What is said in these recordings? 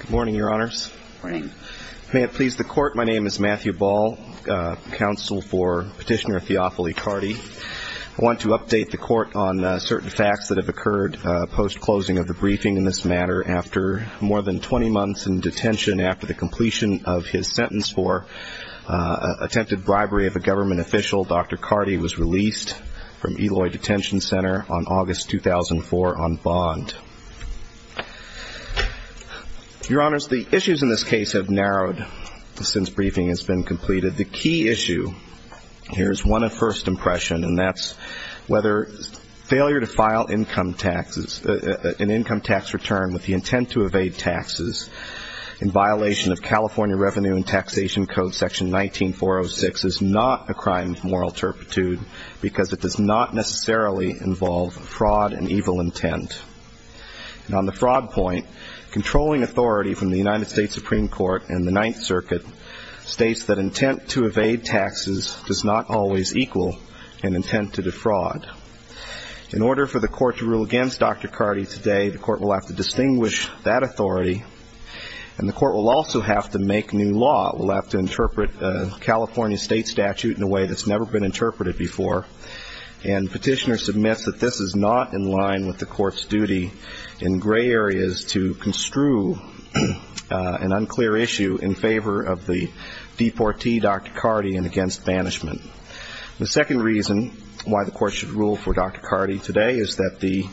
Good morning, Your Honors. May it please the Court, my name is Matthew Ball, counsel for Petitioner Theophily Cardy. I want to update the Court on certain facts that have occurred post-closing of the briefing in this matter. After more than 20 months in detention after the completion of his sentence for attempted bribery of a government official, Dr. Cardy was released from Eloy Detention Center on August 2004 on bond. Your Honors, the issues in this case have narrowed since briefing has been completed. The key issue here is one of first impression, and that's whether failure to file income taxes, an income tax return with the intent to evade taxes in violation of California Revenue and Taxation Code section 19-406 is not a crime of moral turpitude because it does not necessarily involve fraud and evil intent. And on the fraud point, controlling authority from the United States Supreme Court and the Ninth Circuit states that intent to evade taxes does not always equal an intent to defraud. In order for the Court to rule against Dr. Cardy today, the Court will have to distinguish that authority, and the Court will also have to make new law. The Court will have to interpret California State Statute in a way that's never been interpreted before, and Petitioner submits that this is not in line with the Court's duty in gray areas to construe an unclear issue in favor of the deportee, Dr. Cardy, and against banishment. The second reason why the Court should rule for Dr. Cardy today is that the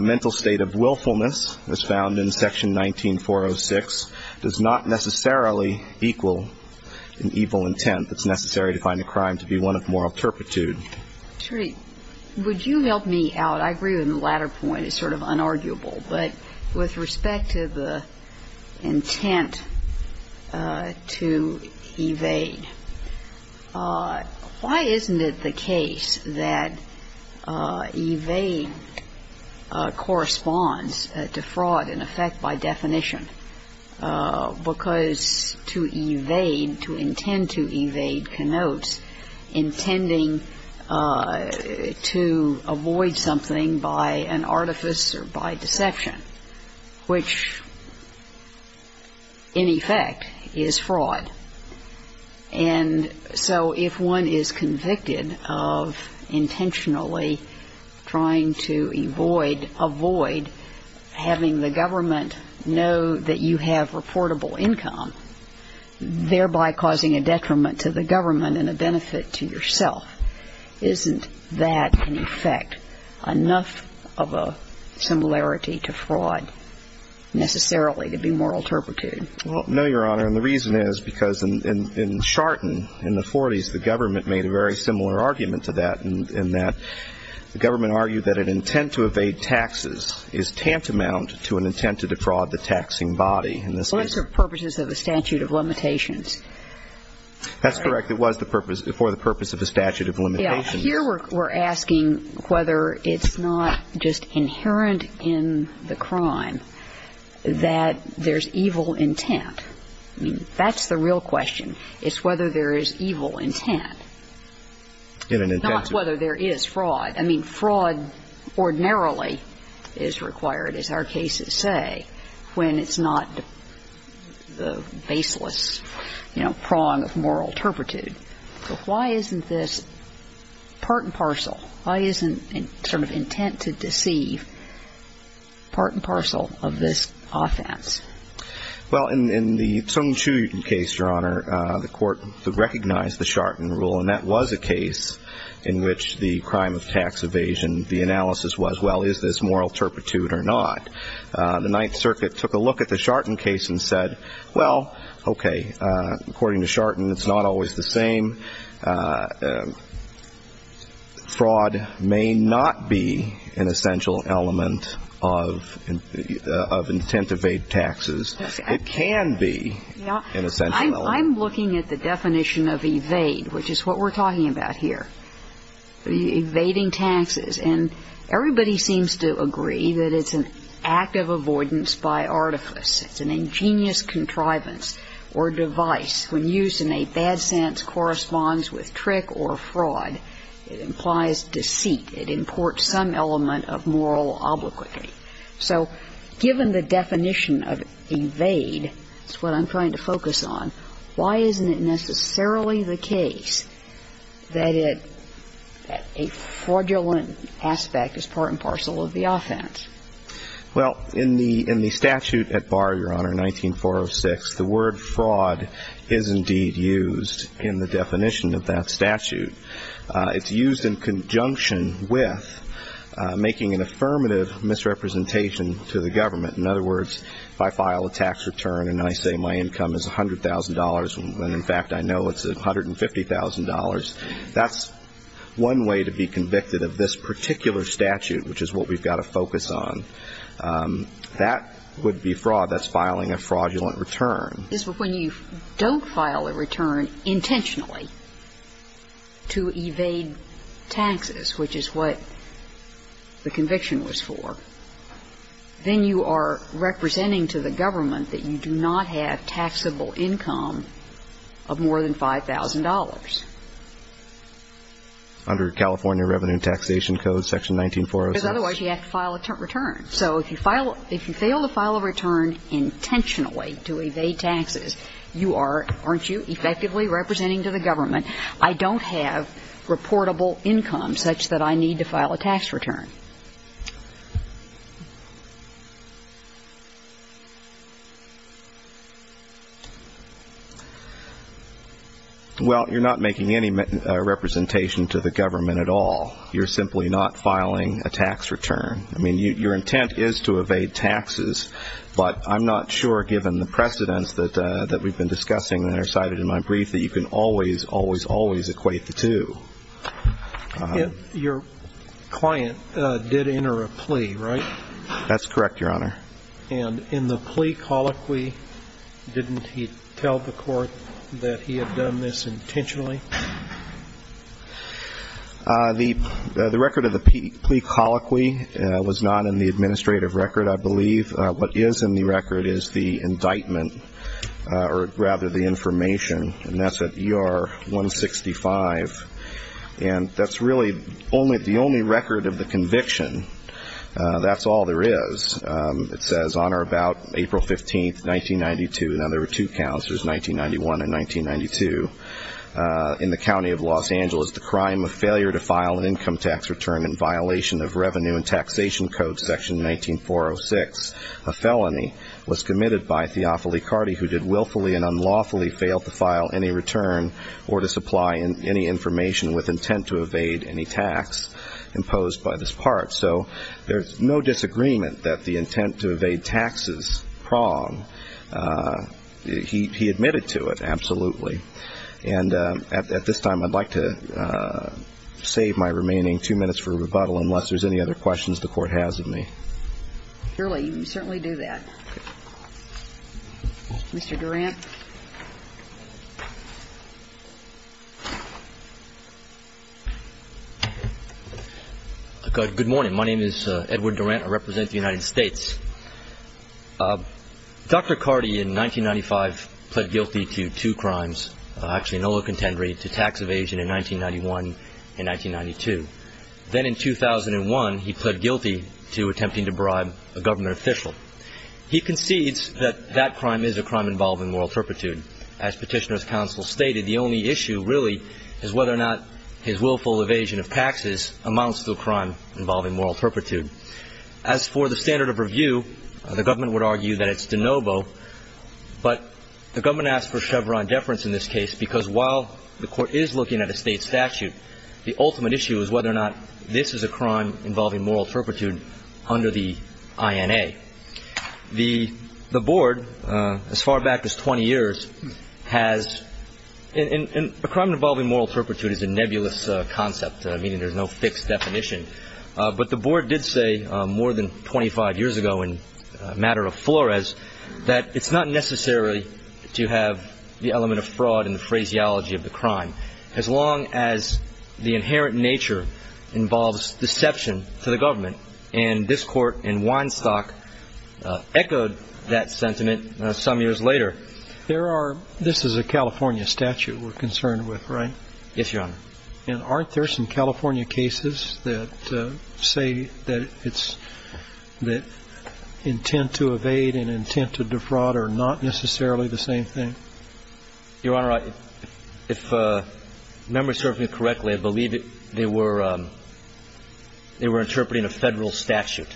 mental state of willfulness as found in section 19-406 does not necessarily equal an evil intent that's necessary to find a crime to be one of moral turpitude. Sotomayor, would you help me out? I agree with the latter point. It's sort of unarguable. But with respect to the intent to evade, why isn't it the case that evade corresponds to fraud, in effect, by definition? Because to evade, to intend to evade, connotes intending to avoid something by an artifice or by deception, which, in effect, is fraud. And so if one is convicted of intentionally trying to avoid having the government know that you have reportable income, thereby causing a detriment to the government and a benefit to yourself, isn't that, in effect, enough of a similarity to fraud necessarily to be moral turpitude? Well, no, Your Honor. And the reason is because in Charton, in the 40s, the government made a very similar argument to that in that the government argued that an intent to evade taxes is tantamount to an intent to defraud the taxing body. Well, that's for purposes of a statute of limitations. That's correct. It was for the purpose of a statute of limitations. Well, here we're asking whether it's not just inherent in the crime that there's evil intent. I mean, that's the real question, is whether there is evil intent. Not whether there is fraud. I mean, fraud ordinarily is required, as our cases say, when it's not the baseless, you know, prong of moral turpitude. So why isn't this part and parcel, why isn't sort of intent to deceive part and parcel of this offense? Well, in the Tung Chew case, Your Honor, the court recognized the Charton rule, and that was a case in which the crime of tax evasion, the analysis was, well, is this moral turpitude or not? The Ninth Circuit took a look at the Charton case and said, well, okay, according to Charton, it's not always the same. Fraud may not be an essential element of intent to evade taxes. It can be an essential element. I'm looking at the definition of evade, which is what we're talking about here, evading taxes. And everybody seems to agree that it's an act of avoidance by artifice. It's an ingenious contrivance or device. When used in a bad sense, corresponds with trick or fraud. It implies deceit. It imports some element of moral obliquity. So given the definition of evade, that's what I'm trying to focus on, why isn't it necessarily the case that a fraudulent aspect is part and parcel of the offense? Well, in the statute at bar, Your Honor, 19-406, the word fraud is indeed used in the definition of that statute. It's used in conjunction with making an affirmative misrepresentation to the government. In other words, if I file a tax return and I say my income is $100,000 and, in fact, I know it's $150,000, that's one way to be convicted of this particular statute, which is what we've got to focus on. That would be fraud. That's filing a fraudulent return. Yes, but when you don't file a return intentionally to evade taxes, which is what the conviction was for, then you are representing to the government that you do not have taxable income of more than $5,000. Under California Revenue and Taxation Code, section 19-406. Because otherwise you have to file a return. So if you fail to file a return intentionally to evade taxes, you are, aren't you effectively representing to the government I don't have reportable income such that I need to file a tax return? Well, you're not making any representation to the government at all. You're simply not filing a tax return. I mean, your intent is to evade taxes, but I'm not sure, given the precedents that we've been discussing that are cited in my brief, that you can always, always, always equate the two. Your client did enter a plea, right? That's correct, Your Honor. And in the plea colloquy, didn't he tell the court that he had done this intentionally? The record of the plea colloquy was not in the administrative record, I believe. What is in the record is the indictment, or rather the information, and that's at ER-165. And that's really the only record of the conviction. That's all there is. It says on or about April 15, 1992. Now, there were two counts. There's 1991 and 1992. In the county of Los Angeles, the crime of failure to file an income tax return in violation of Revenue and Taxation Code, Section 19-406, a felony was committed by Theofily Carty, who did willfully and unlawfully fail to file any return or to supply any information with intent to evade any tax imposed by this part. So there's no disagreement that the intent to evade taxes is wrong. He admitted to it, absolutely. And at this time, I'd like to save my remaining two minutes for rebuttal, unless there's any other questions the Court has of me. Surely. You certainly do that. Mr. Durant. Good morning. My name is Edward Durant. I represent the United States. Dr. Carty, in 1995, pled guilty to two crimes, actually no other contendery, to tax evasion in 1991 and 1992. Then in 2001, he pled guilty to attempting to bribe a government official. He concedes that that crime is a crime involving moral turpitude. As Petitioner's Counsel stated, the only issue really is whether or not his willful evasion of taxes amounts to a crime involving moral turpitude. As for the standard of review, the government would argue that it's de novo. But the government asked for Chevron deference in this case because while the Court is looking at a state statute, the ultimate issue is whether or not this is a crime involving moral turpitude under the INA. The Board, as far back as 20 years, has – and a crime involving moral turpitude is a nebulous concept, meaning there's no fixed definition. But the Board did say more than 25 years ago in a matter of flores that it's not necessary to have the element of fraud in the phraseology of the crime, as long as the inherent nature involves deception to the government. And this Court in Weinstock echoed that sentiment some years later. There are – this is a California statute we're concerned with, right? Yes, Your Honor. And aren't there some California cases that say that it's – that intent to evade and intent to defraud are not necessarily the same thing? Your Honor, if memory serves me correctly, I believe they were interpreting a Federal statute.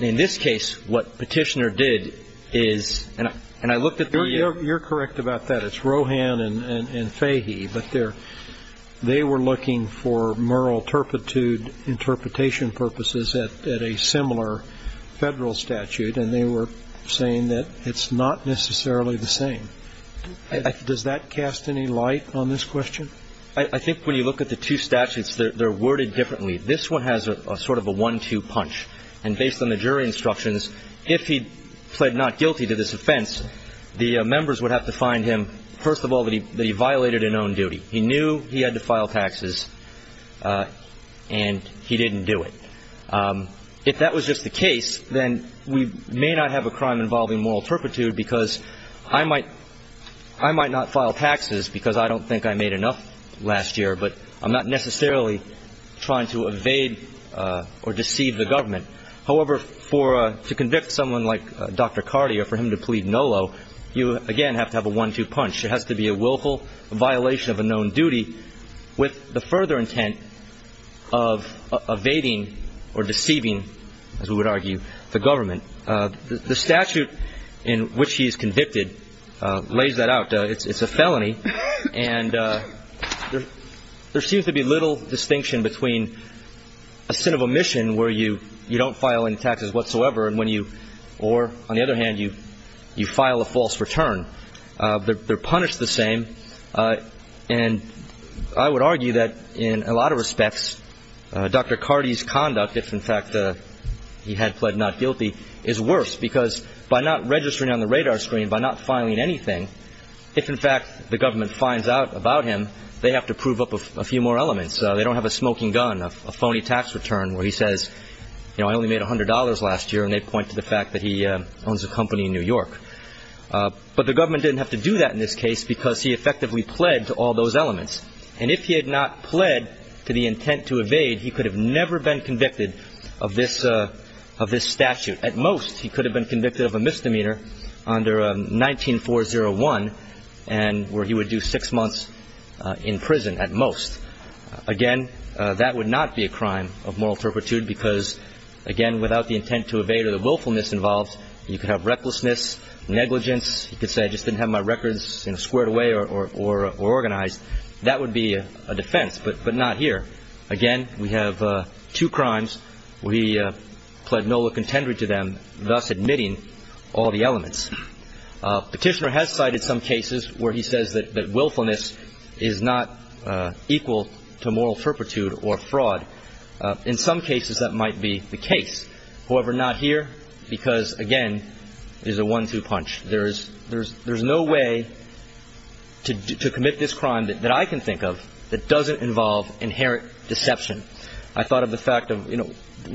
In this case, what Petitioner did is – and I looked at the – You're correct about that. It's Rohan and Fahy. But they were looking for moral turpitude interpretation purposes at a similar Federal statute, and they were saying that it's not necessarily the same. Does that cast any light on this question? I think when you look at the two statutes, they're worded differently. This one has a sort of a one-two punch. And based on the jury instructions, if he pled not guilty to this offense, the members would have to find him, first of all, that he violated a known duty. He knew he had to file taxes, and he didn't do it. If that was just the case, then we may not have a crime involving moral turpitude because I might not file taxes because I don't think I made enough last year, but I'm not necessarily trying to evade or deceive the government. However, for – to convict someone like Dr. Carty or for him to plead NOLO, you, again, have to have a one-two punch. It has to be a willful violation of a known duty with the further intent of evading or deceiving, as we would argue, the government. The statute in which he is convicted lays that out. It's a felony. And there seems to be little distinction between a sin of omission where you don't file any taxes whatsoever and when you – or, on the other hand, you file a false return. They're punished the same. And I would argue that, in a lot of respects, Dr. Carty's conduct, if, in fact, he had pled not guilty, is worse because by not registering on the radar screen, by not filing anything, if, in fact, the government finds out about him, they have to prove up a few more elements. They don't have a smoking gun, a phony tax return where he says, you know, I only made $100 last year, and they point to the fact that he owns a company in New York. But the government didn't have to do that in this case because he effectively pled to all those elements. And if he had not pled to the intent to evade, he could have never been convicted of this statute. At most, he could have been convicted of a misdemeanor under 19401 where he would do six months in prison, at most. Again, that would not be a crime of moral turpitude because, again, without the intent to evade or the willfulness involved, you could have recklessness, negligence. You could say, I just didn't have my records squared away or organized. That would be a defense, but not here. Again, we have two crimes where he pled nulla contendere to them, thus admitting all the elements. Petitioner has cited some cases where he says that willfulness is not equal to moral turpitude or fraud. In some cases, that might be the case. However, not here because, again, there's a one-two punch. There's no way to commit this crime that I can think of that doesn't involve inherent deception. I thought of the fact of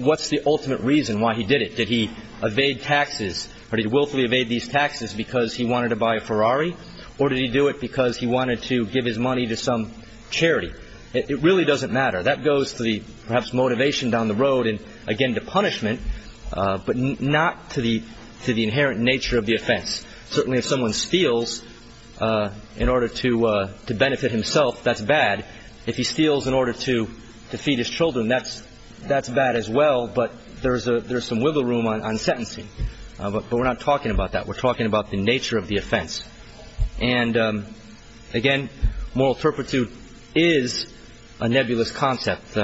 what's the ultimate reason why he did it. Did he evade taxes or did he willfully evade these taxes because he wanted to buy a Ferrari or did he do it because he wanted to give his money to some charity? It really doesn't matter. That goes to the, perhaps, motivation down the road and, again, to punishment, but not to the inherent nature of the offense. Certainly, if someone steals in order to benefit himself, that's bad. If he steals in order to feed his children, that's bad as well, but there's some wiggle room on sentencing. But we're not talking about that. Again, moral turpitude is a nebulous concept,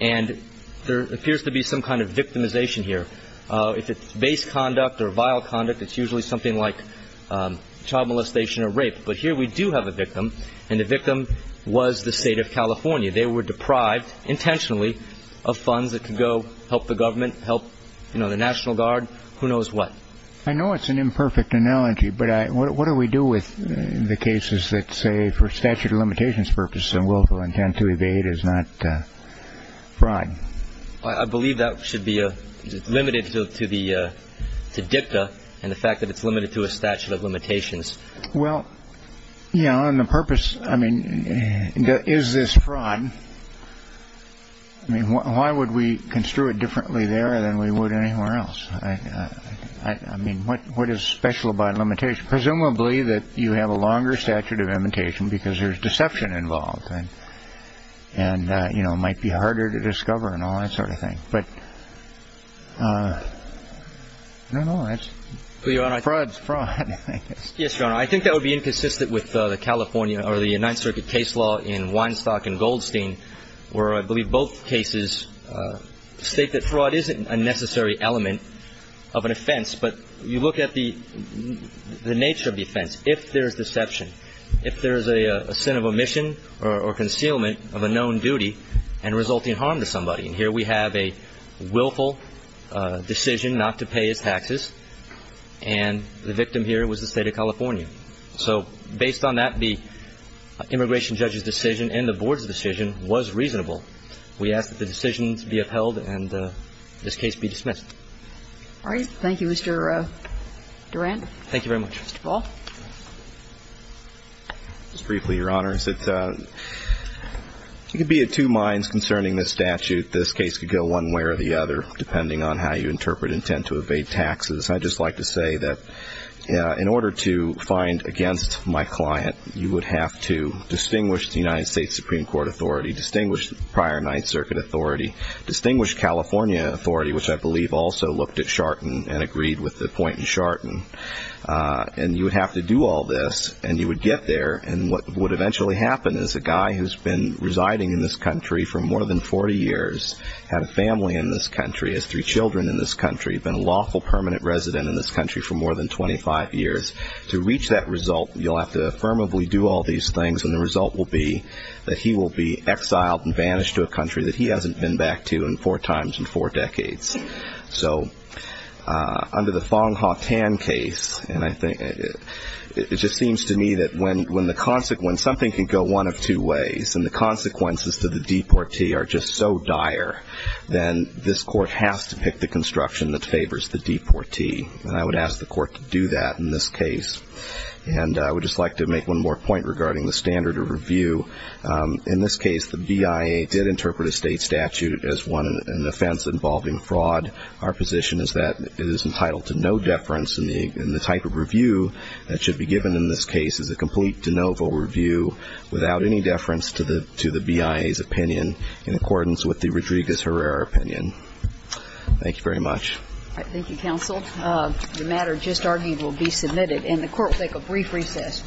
and there appears to be some kind of victimization here. If it's base conduct or vile conduct, it's usually something like child molestation or rape. But here we do have a victim, and the victim was the state of California. They were deprived, intentionally, of funds that could go help the government, help the National Guard, who knows what. I know it's an imperfect analogy, but what do we do with the cases that say, for statute of limitations purposes and willful intent to evade is not fraud? I believe that should be limited to dicta and the fact that it's limited to a statute of limitations. Well, yeah, on the purpose, I mean, is this fraud? I mean, why would we construe it differently there than we would anywhere else? I mean, what is special about limitation? Presumably that you have a longer statute of limitation because there's deception involved, and it might be harder to discover and all that sort of thing. But I don't know. Fraud is fraud. Yes, Your Honor. I think that would be inconsistent with the California or the Ninth Circuit case law in Weinstock and Goldstein, where I believe both cases state that fraud isn't a necessary element of an offense. But you look at the nature of the offense. If there is deception, if there is a sin of omission or concealment of a known duty and resulting harm to somebody, and here we have a willful decision not to pay his taxes, and the victim here was the State of California. So based on that, the immigration judge's decision and the board's decision was reasonable. We ask that the decision be upheld and this case be dismissed. All right. Thank you, Mr. Durand. Thank you very much. Mr. Ball. Just briefly, Your Honor. You could be at two minds concerning this statute. This case could go one way or the other, depending on how you interpret intent to evade taxes. I'd just like to say that in order to find against my client, you would have to distinguish the United States Supreme Court authority, distinguish the prior Ninth Circuit authority, distinguish California authority, which I believe also looked at Charton and agreed with the point in Charton. And you would have to do all this, and you would get there, and what would eventually happen is a guy who's been residing in this country for more than 40 years, had a family in this country, has three children in this country, been a lawful permanent resident in this country for more than 25 years. To reach that result, you'll have to affirmably do all these things, and the result will be that he will be exiled and vanished to a country that he hasn't been back to in four times in four decades. So under the Fong-Ha Tan case, and I think it just seems to me that when the consequence, something can go one of two ways, and the consequences to the deportee are just so dire, then this court has to pick the construction that favors the deportee. And I would ask the court to do that in this case. And I would just like to make one more point regarding the standard of review. In this case, the BIA did interpret a state statute as one, an offense involving fraud. Our position is that it is entitled to no deference, and the type of review that should be given in this case is a complete de novo review without any deference to the BIA's opinion in accordance with the Rodriguez-Herrera opinion. Thank you very much. Thank you, counsel. The matter just argued will be submitted, and the court will take a brief recess.